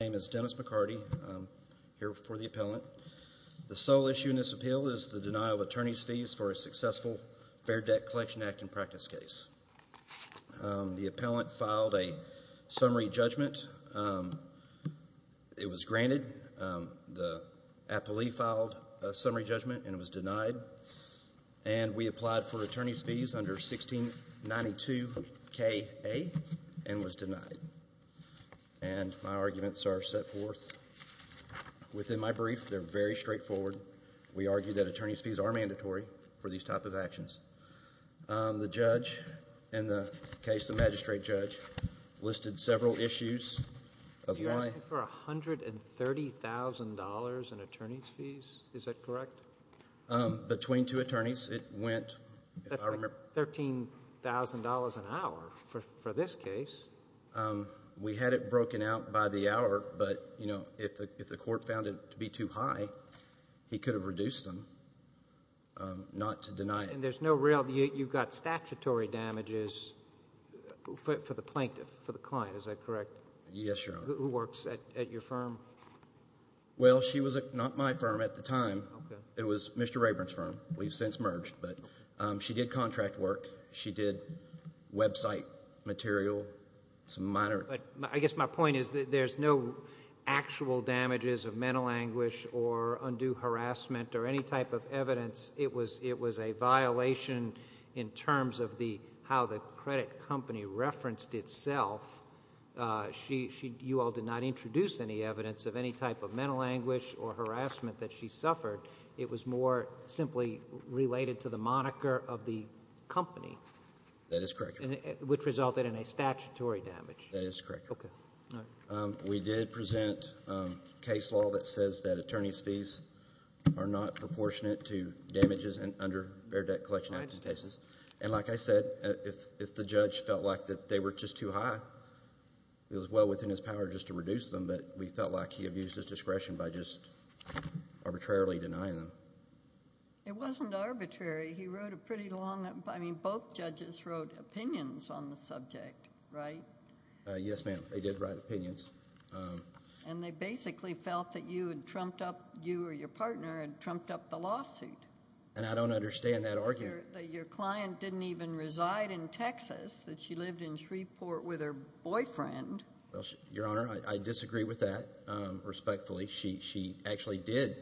My name is Dennis McCarty. I'm here for the appellant. The sole issue in this appeal is the denial of attorney's fees for a successful Fair Debt Collection Act in practice case. The appellant filed a summary judgment. It was granted. The appellee filed a summary judgment and it was denied. And we applied for attorney's fees under 1692 K.A. and was set forth. Within my brief, they're very straightforward. We argue that attorney's fees are mandatory for these type of actions. The judge in the case, the magistrate judge, listed several issues of why. You're asking for $130,000 in attorney's fees? Is that correct? Between two attorneys, it went. That's like $13,000 an hour for this case. We had it broken out by the hour, but you know, if the court found it to be too high, he could have reduced them. Not to deny it. And there's no real, you've got statutory damages for the plaintiff, for the client, is that correct? Yes, Your Honor. Who works at your firm? Well, she was not my firm at the time. It was Mr. Rayburn's firm. We've since merged, but she did contract work. She did website material. I guess my point is that there's no actual damages of mental anguish or undue harassment or any type of evidence. It was a violation in terms of how the credit company referenced itself. You all did not introduce any evidence of any type of mental anguish or harassment that she suffered. It was more simply related to the moniker of the company. That is correct, Your Honor. Which resulted in a statutory damage. That is correct, Your Honor. We did present case law that says that attorney's fees are not proportionate to damages under Beardet Collection Act cases. And like I said, if the judge felt like they were just too high, it was well within his power just to reduce them, but we felt like he abused his discretion by just arbitrarily denying them. It wasn't arbitrary. He wrote a pretty long... I mean, both judges wrote opinions on the subject, right? Yes, ma'am. They did write opinions. And they basically felt that you had trumped up... you or your partner had trumped up the lawsuit. And I don't understand that argument. That your client didn't even reside in Texas, that she lived in Shreveport with her boyfriend. Your Honor, I disagree with that respectfully. She actually did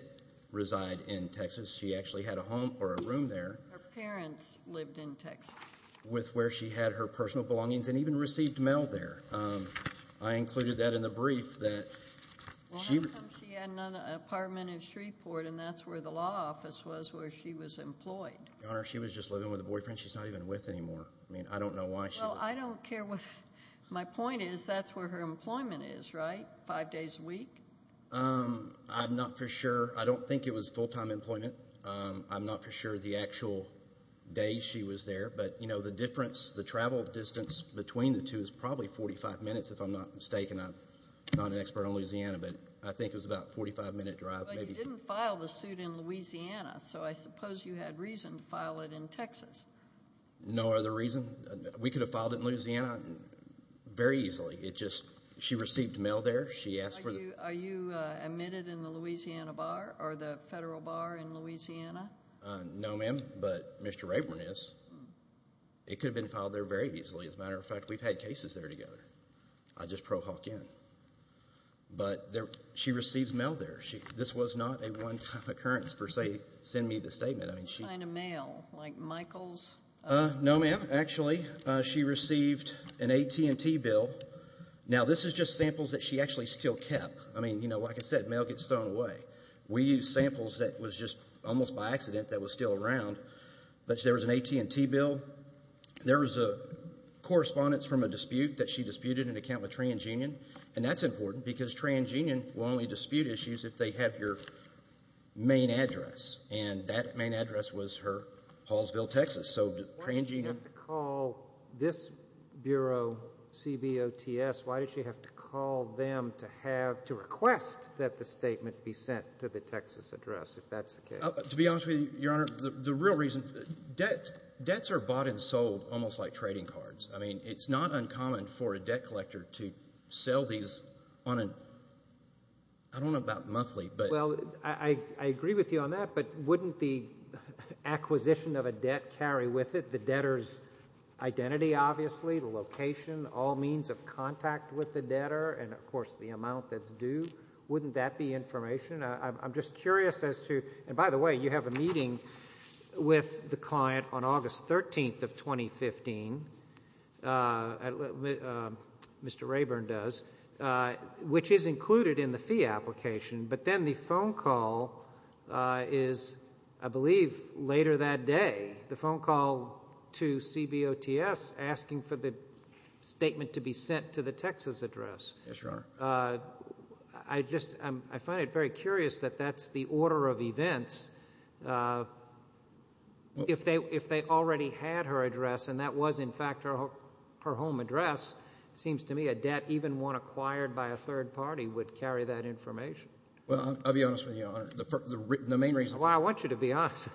reside in Texas. She actually had a home or a room there. Her parents lived in Texas. With where she had her personal belongings and even received mail there. I included that in the brief that... Well, how come she had an apartment in Shreveport and that's where the law office was where she was employed? Your Honor, she was just living with a boyfriend she's not even with anymore. I mean, I don't know why she... Well, I don't care what... My point is that's where her employment is, right? Five days a week? I'm not for sure. I don't think it was full-time employment. I'm not for sure the actual day she was there. But, you know, the difference, the travel distance between the two is probably 45 minutes if I'm not mistaken. I'm not an expert on Louisiana, but I think it was about a 45-minute drive. But you didn't file the suit in Louisiana, so I suppose you had reason to file it in Texas. No other reason. We could have filed it in Louisiana very easily. It just... She received mail there. She asked for the... Are you admitted in the Louisiana Bar or the Federal Bar in Louisiana? No, ma'am, but Mr. Rayburn is. It could have been filed there very easily. As a matter of fact, we've had cases there together. I just pro-hawk in. But she receives mail there. This was not a one-time occurrence, per se, send me the statement. I mean, she... What kind of mail? She received an AT&T bill. Now, this is just samples that she actually still kept. I mean, you know, like I said, mail gets thrown away. We used samples that was just almost by accident that was still around. But there was an AT&T bill. There was a correspondence from a dispute that she disputed in account with TransUnion, and that's important because TransUnion will only dispute issues if they have your main address, and that main address was her Hallsville, Texas. So TransUnion... Why did she have to call this Bureau, CBOTS, why did she have to call them to have, to request that the statement be sent to the Texas address, if that's the case? To be honest with you, Your Honor, the real reason... Debts are bought and sold almost like trading cards. I mean, it's not uncommon for a debt collector to sell these on a... I don't know about monthly, but... Well, I agree with you on that, but wouldn't the acquisition of a debt carry with it the debtor's identity, obviously, the location, all means of contact with the debtor, and of course the amount that's due? Wouldn't that be information? I'm just curious as to... And by the way, you have a meeting with the client on August 13th of 2015, Mr. Rayburn does, which is included in the fee application, but then the phone call is, I believe, later that day, the phone call to CBOTS asking for the statement to be sent to the Texas address. Yes, Your Honor. I just, I find it very curious that that's the order of events. If they already had her address, and that was, in fact, her home address, it seems to me a debt, even one acquired by a third party would carry that information. Well, I'll be honest with you, Your Honor, the main reason... That's why I want you to be honest.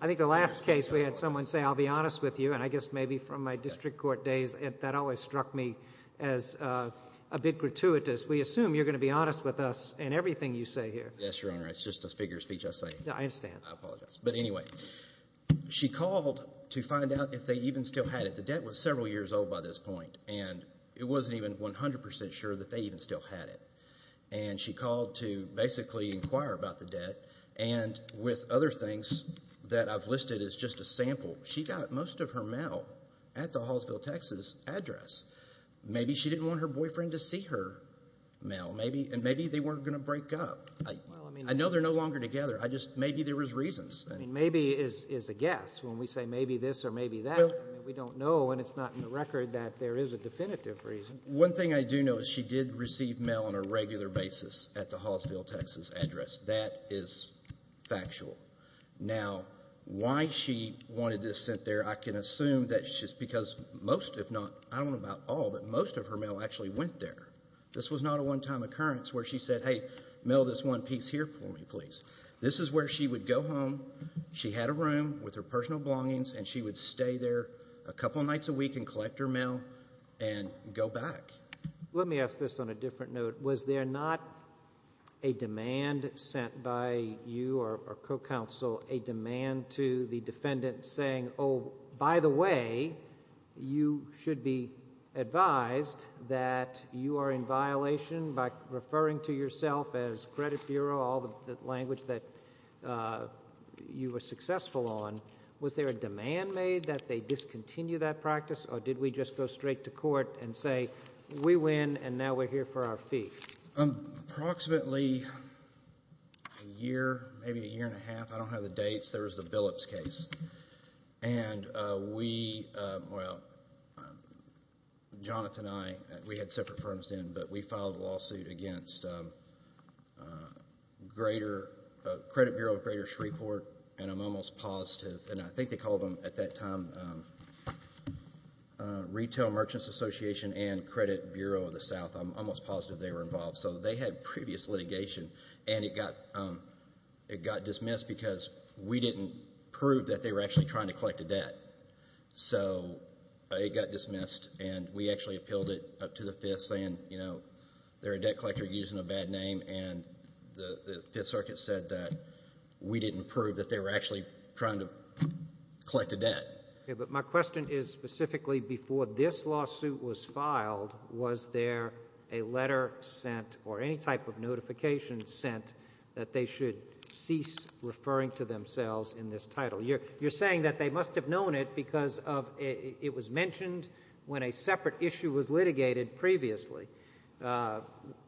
I think the last case we had someone say, I'll be honest with you, and I guess maybe from my district court days, that always struck me as a bit gratuitous. We assume you're going to be honest with us in everything you say here. Yes, Your Honor, it's just a figure of speech I say. I understand. I apologize. But anyway, she called to find out if they even still had it. The debt was several years old by this point, and it wasn't even 100 percent sure that they even still had it. And she called to basically inquire about the debt, and with other things that I've listed as just a sample, she got most of her mail at the Hallsville, Texas address. Maybe she didn't want her boyfriend to see her mail. Maybe they weren't going to break up. I know they're no longer together. I just, maybe there was reasons. Maybe is a guess. When we say maybe this or maybe that, we don't know, and it's not in the record, that there is a definitive reason. One thing I do know is she did receive mail on a regular basis at the Hallsville, Texas address. That is factual. Now, why she wanted this sent there, I can assume that's just because most, if not, I don't know about all, but most of her mail actually went there. This was not a one-time occurrence where she said, hey, mail this one piece here for me, please. This is where she would go home. She had a room with her personal belongings, and she would stay there a couple nights a week and collect her mail and go back. Let me ask this on a different note. Was there not a demand sent by you or her co-counsel a demand to the defendant saying, oh, by the way, you should be advised that you are in violation by referring to yourself as credit bureau, all the language that you were successful on, was there a demand made that they discontinue that practice, or did we just go straight to court and say, we win, and now we're here for our fee? Approximately a year, maybe a year and a half. I don't have the dates. There was the Billups case. And we, well, Jonathan and I, we had separate firms then, but we filed a lawsuit against Credit Bureau of Greater Shreveport, and I'm almost positive, and I think they called them at that time Retail Merchants Association and Credit Bureau of the South. I'm almost positive they were involved. So they had previous litigation, and it got dismissed because we didn't prove that they were actually trying to collect a debt. So it got dismissed, and we actually appealed it up to the Fifth saying, you know, they're a debt collector using a bad name, and the Fifth Circuit said that we didn't prove that they were actually trying to collect a debt. Okay, but my question is specifically before this lawsuit was filed, was there a letter sent or any type of notification sent that they should cease referring to themselves in this title? You're saying that they must have known it because of it was mentioned when a separate issue was litigated previously.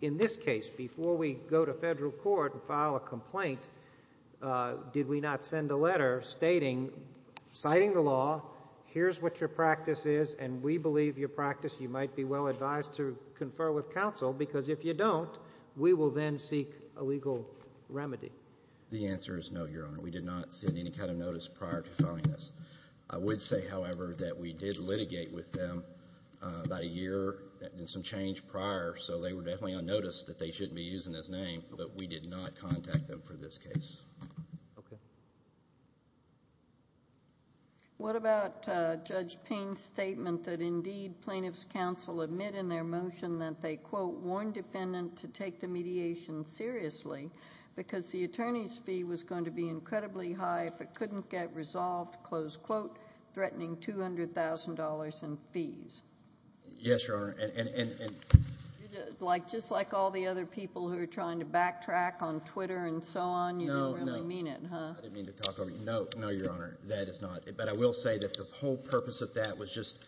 In this case, before we go to federal court and file a complaint, did we not send a letter stating, citing the law, here's what your practice is, and we believe your practice, you might be well advised to confer with counsel, because if you don't, we will then seek a legal remedy. The answer is no, Your Honor. We did not send any kind of notice prior to filing this. I would say, however, that we did litigate with them about a year and some change prior, so they were definitely unnoticed that they shouldn't be using this name, but we did not contact them for this case. What about Judge Payne's statement that indeed plaintiff's counsel admit in their motion that they, quote, warned defendant to take the mediation seriously because the attorney's going to be incredibly high if it couldn't get resolved, close quote, threatening $200,000 in fees? Yes, Your Honor, and... Just like all the other people who are trying to backtrack on Twitter and so on, you didn't really mean it, huh? No, no, I didn't mean to talk over you. No, no, Your Honor, that is not, but I will say that the whole purpose of that was just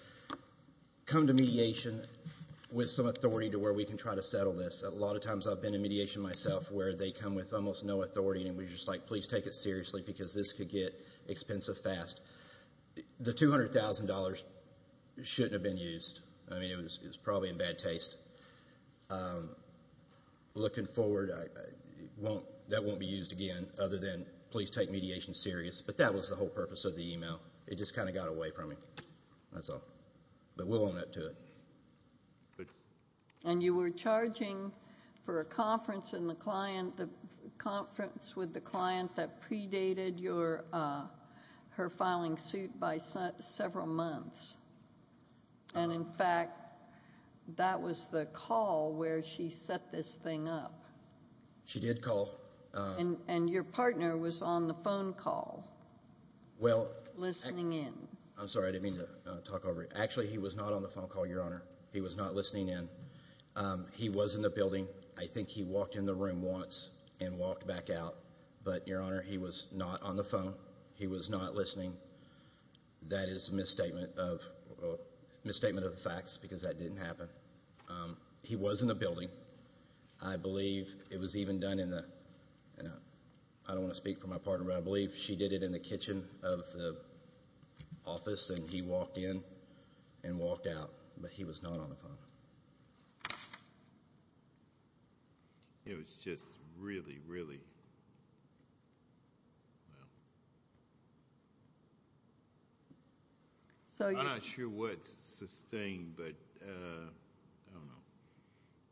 come to mediation with some authority to where we can try to settle this. A lot of times I've been in mediation myself where they come with almost no authority and it was just like, please take it seriously because this could get expensive fast. The $200,000 shouldn't have been used. I mean, it was probably in bad taste. Looking forward, that won't be used again other than please take mediation serious, but that was the whole purpose of the email. It just kind of got away from me. That's all, but we'll own up to it. And you were charging for a conference with the client that predated her filing suit by several months, and in fact, that was the call where she set this thing up. She did call. And your partner was on the phone call listening in. I'm sorry, I didn't mean to talk over you. Actually, he was not on the phone call, Your Honor. He was not listening in. He was in the building. I think he walked in the room once and walked back out, but Your Honor, he was not on the phone. He was not listening. That is a misstatement of the facts because that didn't happen. He was in the building. I believe it was even done in the, I don't want to speak for my partner, but I believe she did it in the kitchen of the office, and he walked in and walked out, but he was not on the phone. It was just really, really, well. I'm not sure what sustained, but I don't know.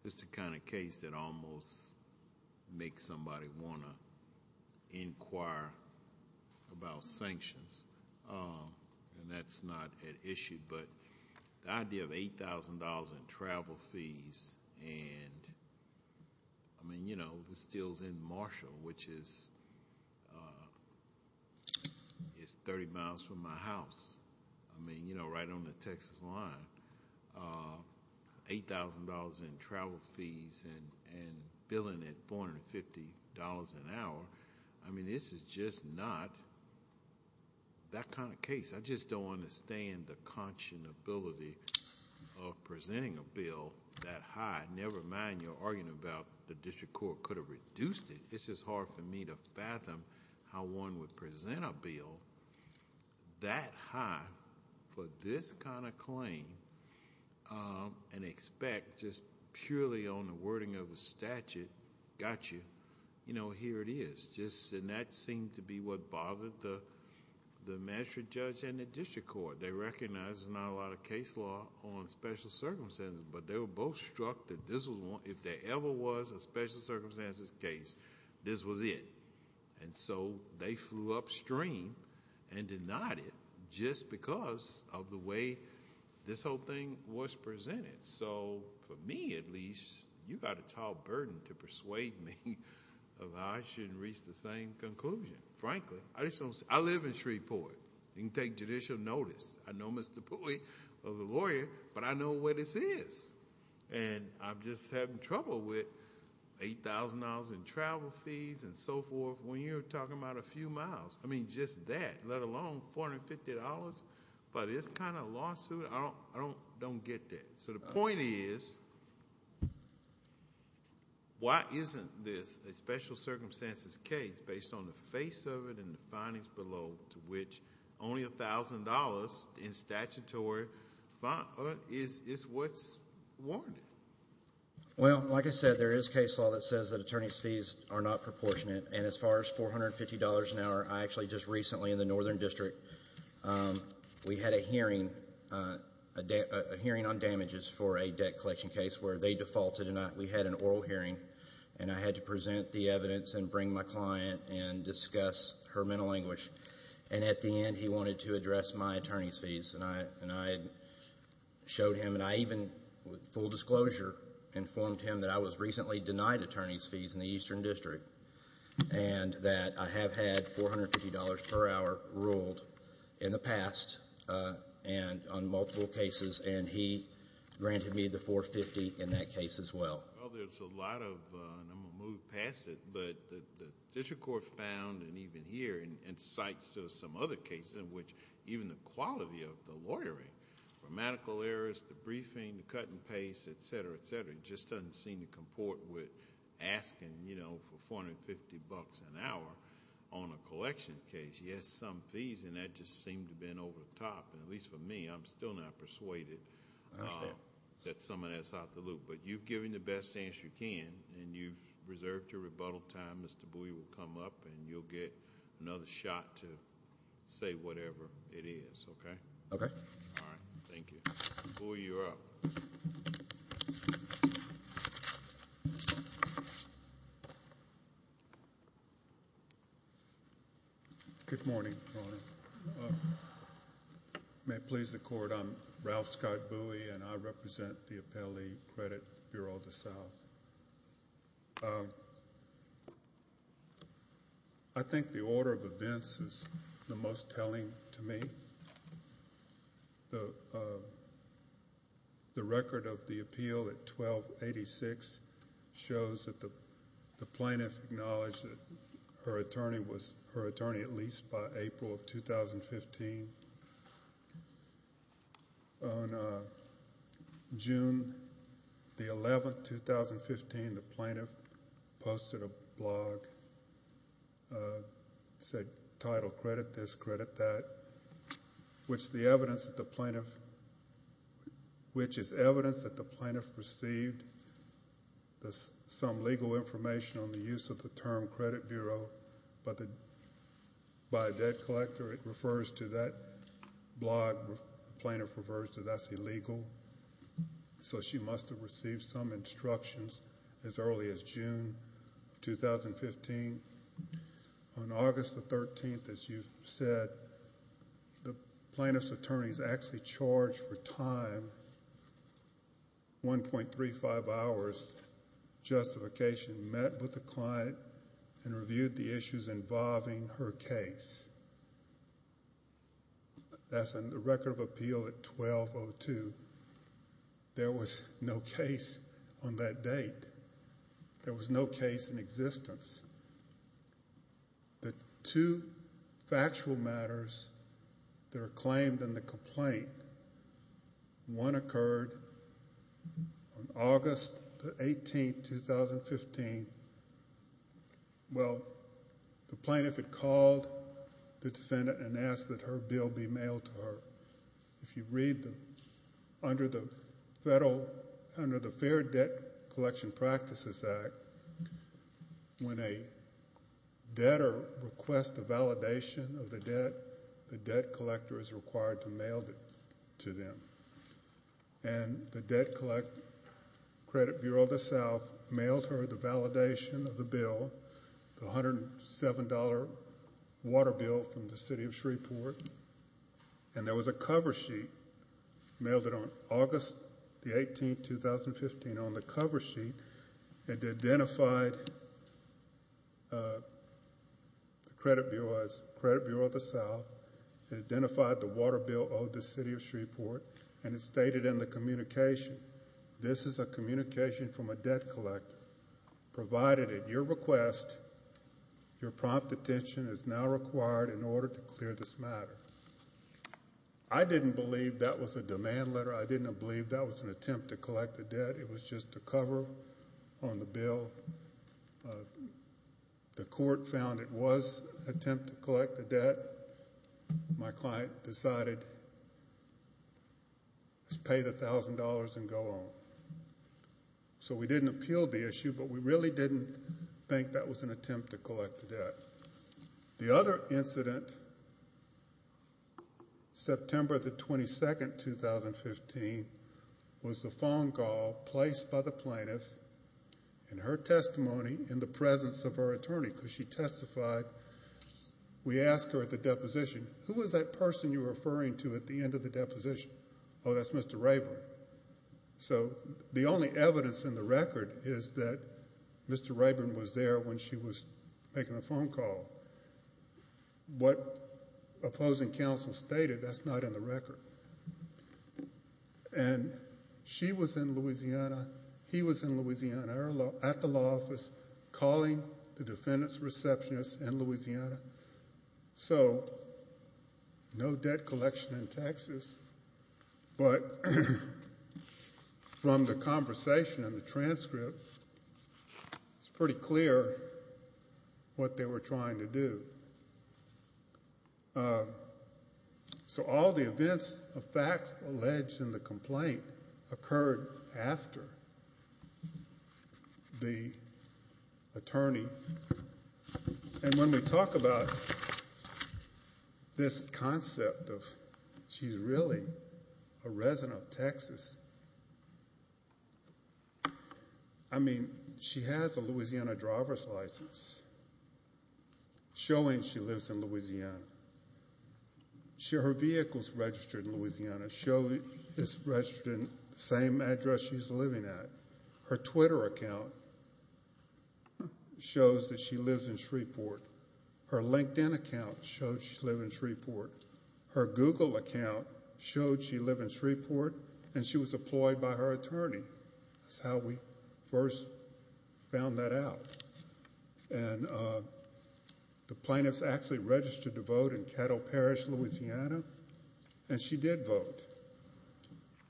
It's the kind of case that almost makes somebody want to inquire about sanctions, and that's not an issue, but the idea of $8,000 in travel fees and, I mean, you know, this deal is in Marshall, which is 30 miles from my house, I mean, you know, right on the Texas line. $8,000 in travel fees and billing at $450 an hour, I mean, this is just not that kind of case. I just don't understand the conscionability of presenting a bill that high. Never mind you're arguing about the district court could have reduced it. It's just hard for me to fathom how one would present a bill that high for this kind of claim and expect just purely on the wording of a statute, got you, you know, here it is, and that seemed to be what bothered the magistrate judge and the district court. They recognized there's not a lot of case law on special circumstances, but they were both struck that if there ever was a special circumstances case, this was it. And so they flew upstream and denied it just because of the way this whole thing was presented. So for me, at least, you got a tall burden to persuade me of how I shouldn't reach the same conclusion. Frankly, I live in Shreveport. You can take judicial notice. I know Mr. Pui was a lawyer, but I know where this is, and I'm just having trouble with $8,000 in travel fees and so forth when you're talking about a few miles. I mean, just that, let alone $450, but it's kind of a lawsuit. I don't get that. So the point is, why isn't this a special circumstances case based on the face of it and the findings below to which only $1,000 in statutory bond is what's warranted? Well, like I said, there is case law that says that attorney's fees are not proportionate, and as far as $450 an hour, I actually just recently in the northern district, we had a hearing, a hearing on damages for a debt collection case where they defaulted, and we had an oral hearing, and I had to present the evidence and bring my client and discuss her mental anguish, and at the end, he wanted to address my attorney's fees, and I showed him, and I even, full disclosure, informed him that I was recently denied attorney's fees in the eastern district, and that I have had $450 per hour ruled in the past on multiple cases, and he granted me the $450 in that case as well. Well, there's a lot of, and I'm going to move past it, but the district court found, and even here, and cites some other cases in which even the briefing, the cut and paste, etc., etc., just doesn't seem to comport with asking for $450 an hour on a collection case. He has some fees, and that just seemed to bend over the top, and at least for me, I'm still not persuaded that some of that's out the loop, but you've given the best answer you can, and you've reserved your rebuttal time. Mr. Bouie will come up, and you'll get another shot to say whatever it is, okay? Okay. All right. Thank you. Mr. Bouie, you're up. Good morning. May it please the Court, I'm Ralph Scott Bouie, and I represent the Appellee Credit Bureau of the South. I think the order of events is the most telling to me. The record of the appeal at 1286 shows that the plaintiff acknowledged that her attorney was her attorney at least by April of 2015. On June the 11th, 2015, the plaintiff posted a blog, it said title credit this, credit that, which is evidence that the plaintiff received some legal information on the use of the term credit bureau by a debt collector. It refers to that blog. The plaintiff refers to that as illegal, so she must have received some instructions as early as June 2015. On August the 13th, as you said, the plaintiff's attorney is actually charged for time, 1.35 hours justification, met with the client, and reviewed the issues on that date. There was no case in existence. The two factual matters that are claimed in the complaint, one occurred on August the 18th, 2015. Well, the plaintiff had called the defendant and said, when a debtor requests a validation of the debt, the debt collector is required to mail it to them. And the Debt Collect Credit Bureau of the South mailed her the validation of the bill, the $107 water bill from the city of Shreveport, and there was a cover sheet mailed it on August the 18th, 2015. On the cover sheet, it identified the Credit Bureau of the South, it identified the water bill owed the city of Shreveport, and it stated in the communication, this is a communication from a debt collector, provided at your request, your prompt attention is now required in order to clear this matter. I didn't believe that was a demand letter. I didn't believe that was an attempt to collect the debt. It was just a cover on the bill. The court found it was an attempt to collect the debt. My client decided, let's pay the thousand dollars and go on. So we didn't appeal the issue, but we September the 22nd, 2015, was the phone call placed by the plaintiff in her testimony in the presence of her attorney, because she testified. We asked her at the deposition, who was that person you're referring to at the end of the deposition? Oh, that's Mr. Rayburn. So the only evidence in the record is that Mr. Rayburn was there when she was making the phone call. What opposing counsel stated, that's not in the record. And she was in Louisiana, he was in Louisiana at the law office calling the defendant's receptionist in Louisiana. So no debt collection in Texas, but from the conversation and the transcript, it's pretty clear what they were trying to do. So all the events of facts alleged in the complaint occurred after the attorney. And when we talk about this concept of she's really a resident of Texas, I mean, she has a Louisiana driver's license, showing she lives in Louisiana. Her vehicle's registered in Louisiana, it's registered in the same address she's living at. Her Twitter account shows that she lives in Shreveport. Her LinkedIn account shows she in Shreveport, and she was employed by her attorney. That's how we first found that out. And the plaintiff's actually registered to vote in Caddo Parish, Louisiana, and she did vote.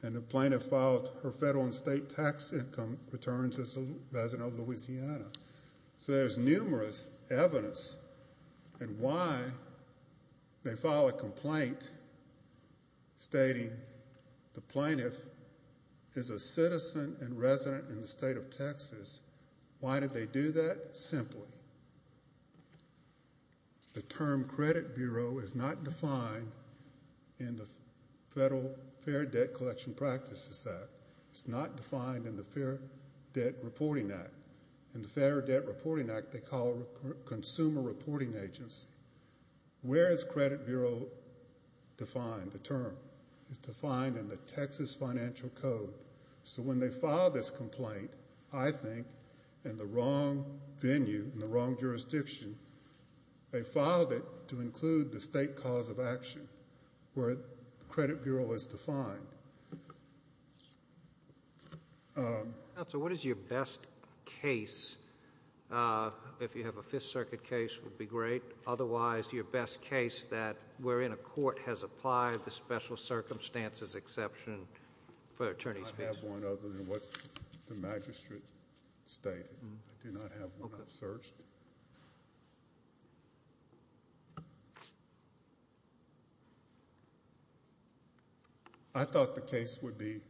And the plaintiff filed her federal and state tax income returns as a resident of Louisiana. So there's numerous evidence in why they file a complaint stating the plaintiff is a citizen and resident in the state of Texas. Why did they do that? Simply. The term credit bureau is not defined in the Federal Fair Debt Collection Practices Act. It's not defined in the Fair Debt Reporting Act. In the Fair Debt Reporting Act, they call it a consumer reporting agency. Where is credit bureau defined, the term? It's defined in the Texas Financial Code. So when they filed this complaint, I think, in the wrong venue, in the wrong jurisdiction, they filed it to include the state cause of action where credit bureau is defined. Counsel, what is your best case? If you have a Fifth Circuit case, it would be great. Otherwise, your best case that we're in a court has applied the special circumstances exception for attorneys. I have one other than what the magistrate stated. I do not have one I've searched. I thought the case would be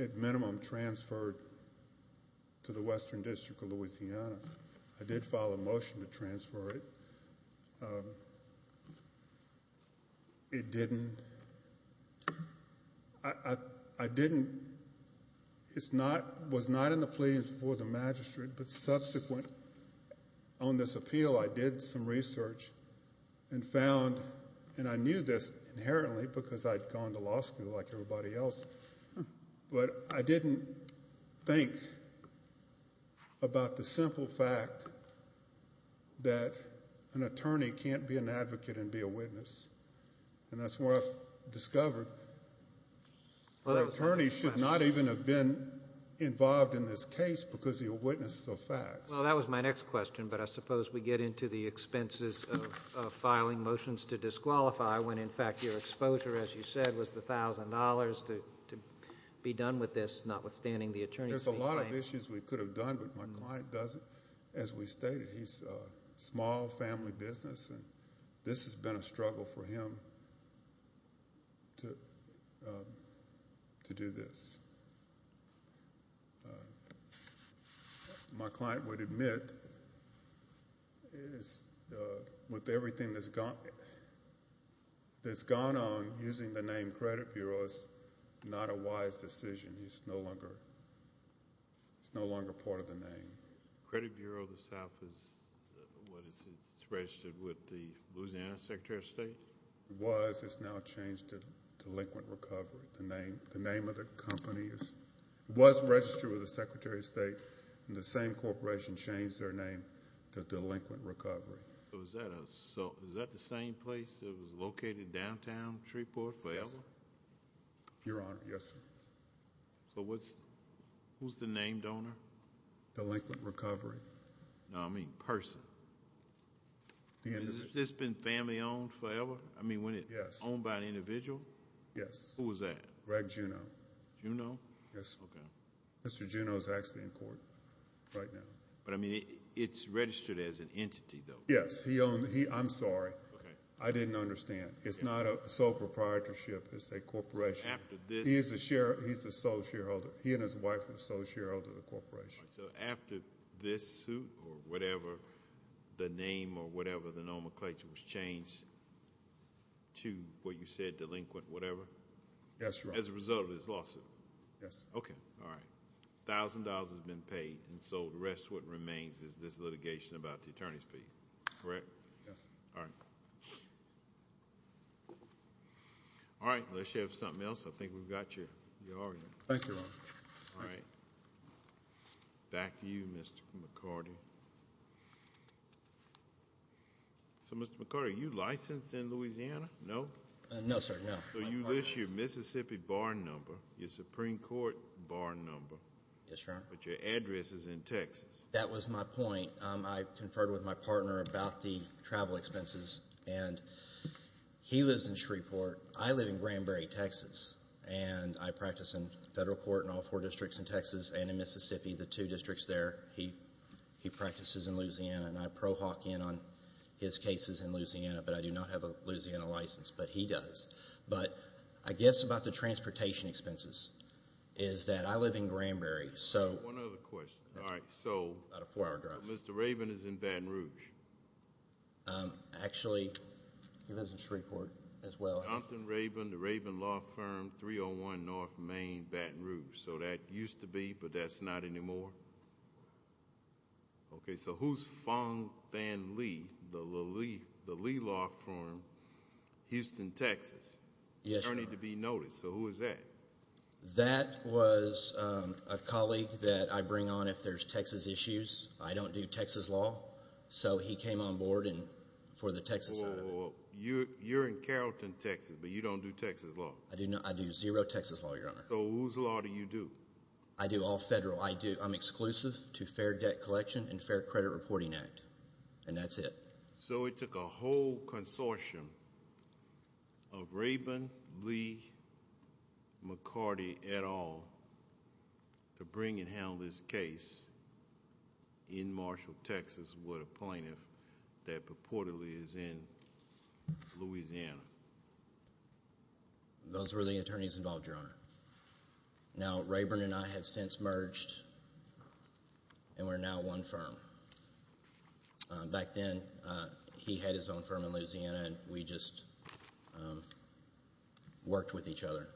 at minimum transferred to the Western District of Louisiana. I did file a motion to transfer it. I was not in the pleadings before the magistrate, but subsequent on this appeal, I did some research and found, and I knew this inherently because I'd gone to law school like everybody else, but I didn't think about the simple fact that an attorney can't be an advocate and be a witness. And that's where I've discovered that an attorney should not even have been involved in this case because he witnessed the facts. Well, that was my next question, but I suppose we get into the expenses of filing motions to disqualify when, in fact, your exposure, as you said, was the $1,000 to be done with this, notwithstanding the attorney. There's a lot of issues we could have done, but my client doesn't. As we stated, he's a small family business, and this has been a struggle for him to do this. My client would admit, with everything that's gone on, using the name Credit Bureau is not a wise decision. It's no longer part of the name. Credit Bureau of the South is registered with the Louisiana Secretary of State? It was. It's now changed to Delinquent Recovery. The name of the company was registered with the Secretary of State, and the same corporation changed their name to Delinquent Recovery. So, is that the same place that was located downtown Shreveport forever? Your Honor, yes, sir. So, who's the name donor? Delinquent Recovery. No, I mean person. Has this been family-owned forever? I mean, when it's owned by an individual? Yes. Who is that? Greg Juneau. Juneau? Yes. Okay. Mr. Juneau is actually in court right now. But, I mean, it's registered as an entity, though. Yes, he owned. I'm sorry. I didn't understand. It's not a sole proprietorship. It's a corporation. He's a sole shareholder. He and his wife are the sole shareholder of the corporation. So, after this suit or whatever, the name or whatever the nomenclature was changed to what you said, delinquent whatever? Yes, Your Honor. As a result of this lawsuit? Yes. Okay. All right. A thousand dollars has been paid, and so the rest of what remains is this litigation about the attorney's fee, correct? Yes. All right. All right. Unless you have something else, I think we've got you. Thank you, Your Honor. All right. Back to you, Mr. McCarty. So, Mr. McCarty, are you licensed in Louisiana? No. No, sir. No. So, you list your Mississippi bar number, your Supreme Court bar number. Yes, Your Honor. But your address is in Texas. That was my point. I conferred with my partner about the travel expenses, and he lives in Shreveport. I live in Shreveport, and I practice in federal court in all four districts in Texas and in Mississippi, the two districts there. He practices in Louisiana, and I pro hoc in on his cases in Louisiana, but I do not have a Louisiana license, but he does. But I guess about the transportation expenses is that I live in Granbury. One other question. All right. So, Mr. Raven is in Baton Rouge. Actually, he lives in Shreveport as well. Jonathan Raven, the Raven Law Firm, 301 North Main, Baton Rouge. So, that used to be, but that's not anymore. Okay. So, who's Fong Thanh Lee, the Lee Law Firm, Houston, Texas? Yes, Your Honor. Attorney to be noticed. So, who is that? That was a colleague that I bring on if there's Texas issues. I don't do Texas law, so he came on board for the Texas side of it. You're in Carrollton, Texas, but you don't do Texas law? I do zero Texas law, Your Honor. So, whose law do you do? I do all federal. I'm exclusive to Fair Debt Collection and Fair Credit Reporting Act, and that's it. So, it took a whole plaintiff that purportedly is in Louisiana. Those were the attorneys involved, Your Honor. Now, Raven and I have since merged, and we're now one firm. Back then, he had his own firm in Louisiana, and we just worked with each other.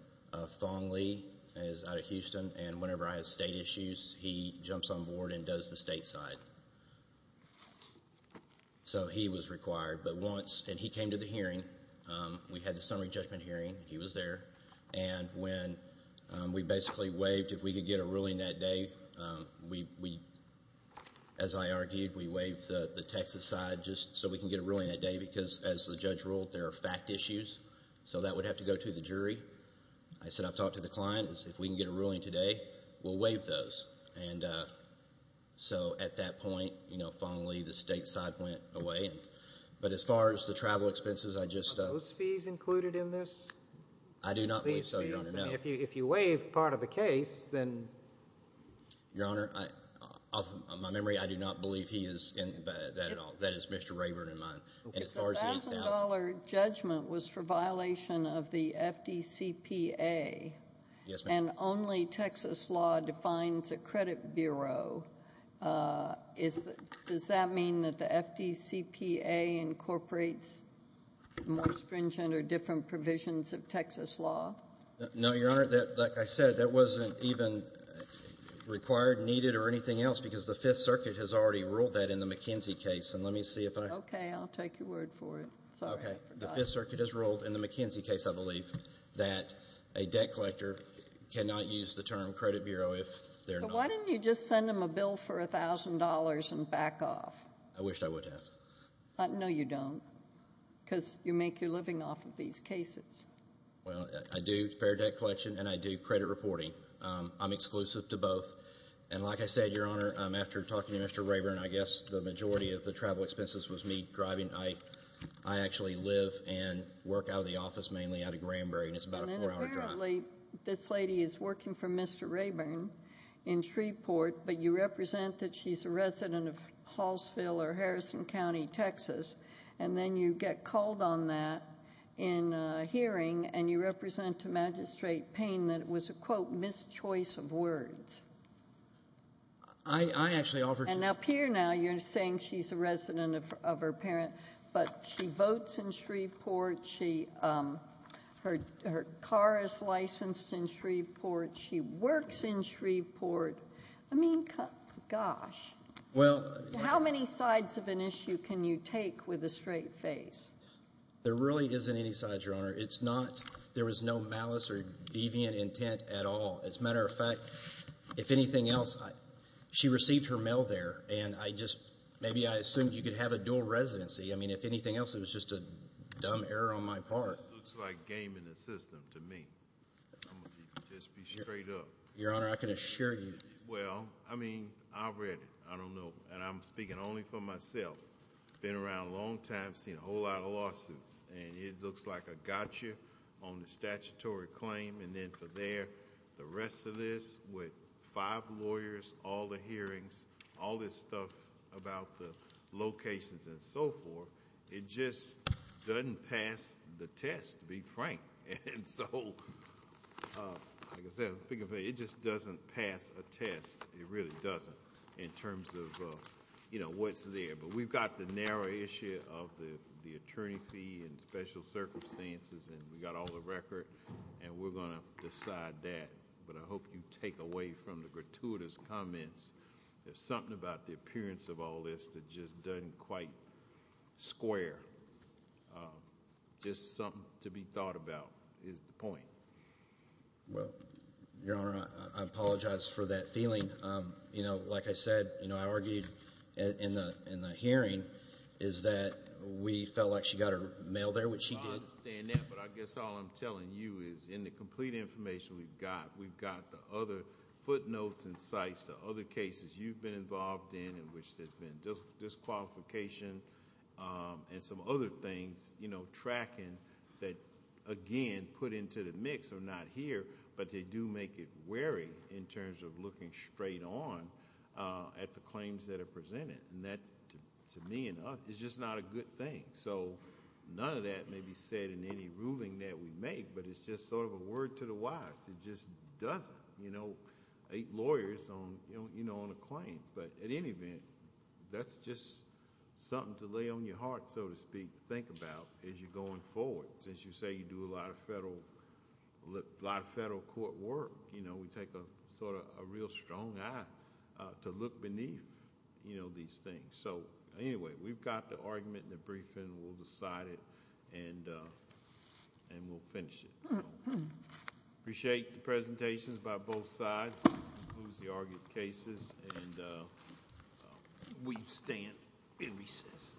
Fong Lee is out of Houston, and whenever I have state issues, he jumps on board and does the state side. So, he was required, and he came to the hearing. We had the summary judgment hearing. He was there, and when we basically waived if we could get a ruling that day, as I argued, we waived the Texas side just so we can get a ruling that day because, as the judge ruled, there are fact issues. So, that would have to go to the And so, at that point, you know, Fong Lee, the state side went away, but as far as the travel expenses, I just... Are those fees included in this? I do not believe so, Your Honor, no. If you waive part of the case, then... Your Honor, off my memory, I do not believe he is in that at all. That is Mr. Raven and mine, and as far as... The $1,000 judgment was for violation of the FDCPA, and only Texas law defines a credit bureau. Does that mean that the FDCPA incorporates more stringent or different provisions of Texas law? No, Your Honor, like I said, that was not even required, needed, or anything else because the Okay, the Fifth Circuit has ruled in the McKenzie case, I believe, that a debt collector cannot use the term credit bureau if they're not... Why didn't you just send them a bill for $1,000 and back off? I wished I would have. No, you don't, because you make your living off of these cases. Well, I do spare debt collection, and I do credit reporting. I'm exclusive to both, and like I said, Your Honor, after talking to Mr. Raven, I guess the majority of the travel expenses was me driving. I actually live and work out of the office, mainly out of Granbury, and it's about a four-hour drive. And then apparently, this lady is working for Mr. Rayburn in Shreveport, but you represent that she's a resident of Hallsville or Harrison County, Texas, and then you get called on that in a hearing, and you represent to Magistrate Payne that it was a, quote, mischoice of words. I actually offered... And up here now, you're saying she's a resident of her parent, but she votes in Shreveport. Her car is licensed in Shreveport. She works in Shreveport. I mean, gosh, how many sides of an issue can you take with a straight face? There really isn't any sides, Your Honor. It's not... There was no malice or deviant intent at all. As a matter of fact, if anything else, she received her mail there, and I just... Maybe I assumed you could have a dual residency. I mean, if anything else, it was just a dumb error on my part. It looks like game in the system to me. I'm going to just be straight up. Your Honor, I can assure you. Well, I mean, I read it. I don't know, and I'm speaking only for myself. Been around a long time, seen a whole lot of lawsuits, and it looks like a gotcha on the statutory claim, and then for there, the rest of this with five lawyers, all the hearings, all this stuff about the locations and so forth, it just doesn't pass the test, to be frank. Like I said, it just doesn't pass a test. It really doesn't in terms of what's there, but we've got the narrow issue of the attorney fee and special circumstances, and we've got all the record, and we're going to decide that, but I hope you take away from the gratuitous comments. There's something about the appearance of all this that just doesn't quite square. Just something to be thought about is the point. Well, Your Honor, I apologize for that feeling. Like I said, I argued in the hearing is that we felt like she got her mail there, which she did. I understand that, but I guess all I'm telling you is in the complete information we've got, we've got the other footnotes and sites, the other cases you've been involved in, in which there's been disqualification and some other things, tracking that, again, put into the mix. They're not here, but they do make it wary in terms of looking straight on at the claims that are presented. That, to me and us, is just not a good thing. None of that may be said in any ruling that we make, but it's just a word to the wise. It just doesn't. Eight lawyers on a claim, but at any event, that's just something to lay on your heart, so to speak, think about as you're going forward. Since you say you do a lot of federal court work, we take a real strong eye to look beneath these things. Anyway, we've got the argument in the briefing. We'll decide it, and we'll finish it. I appreciate the presentations by both sides, includes the argued cases, and we stand in recess.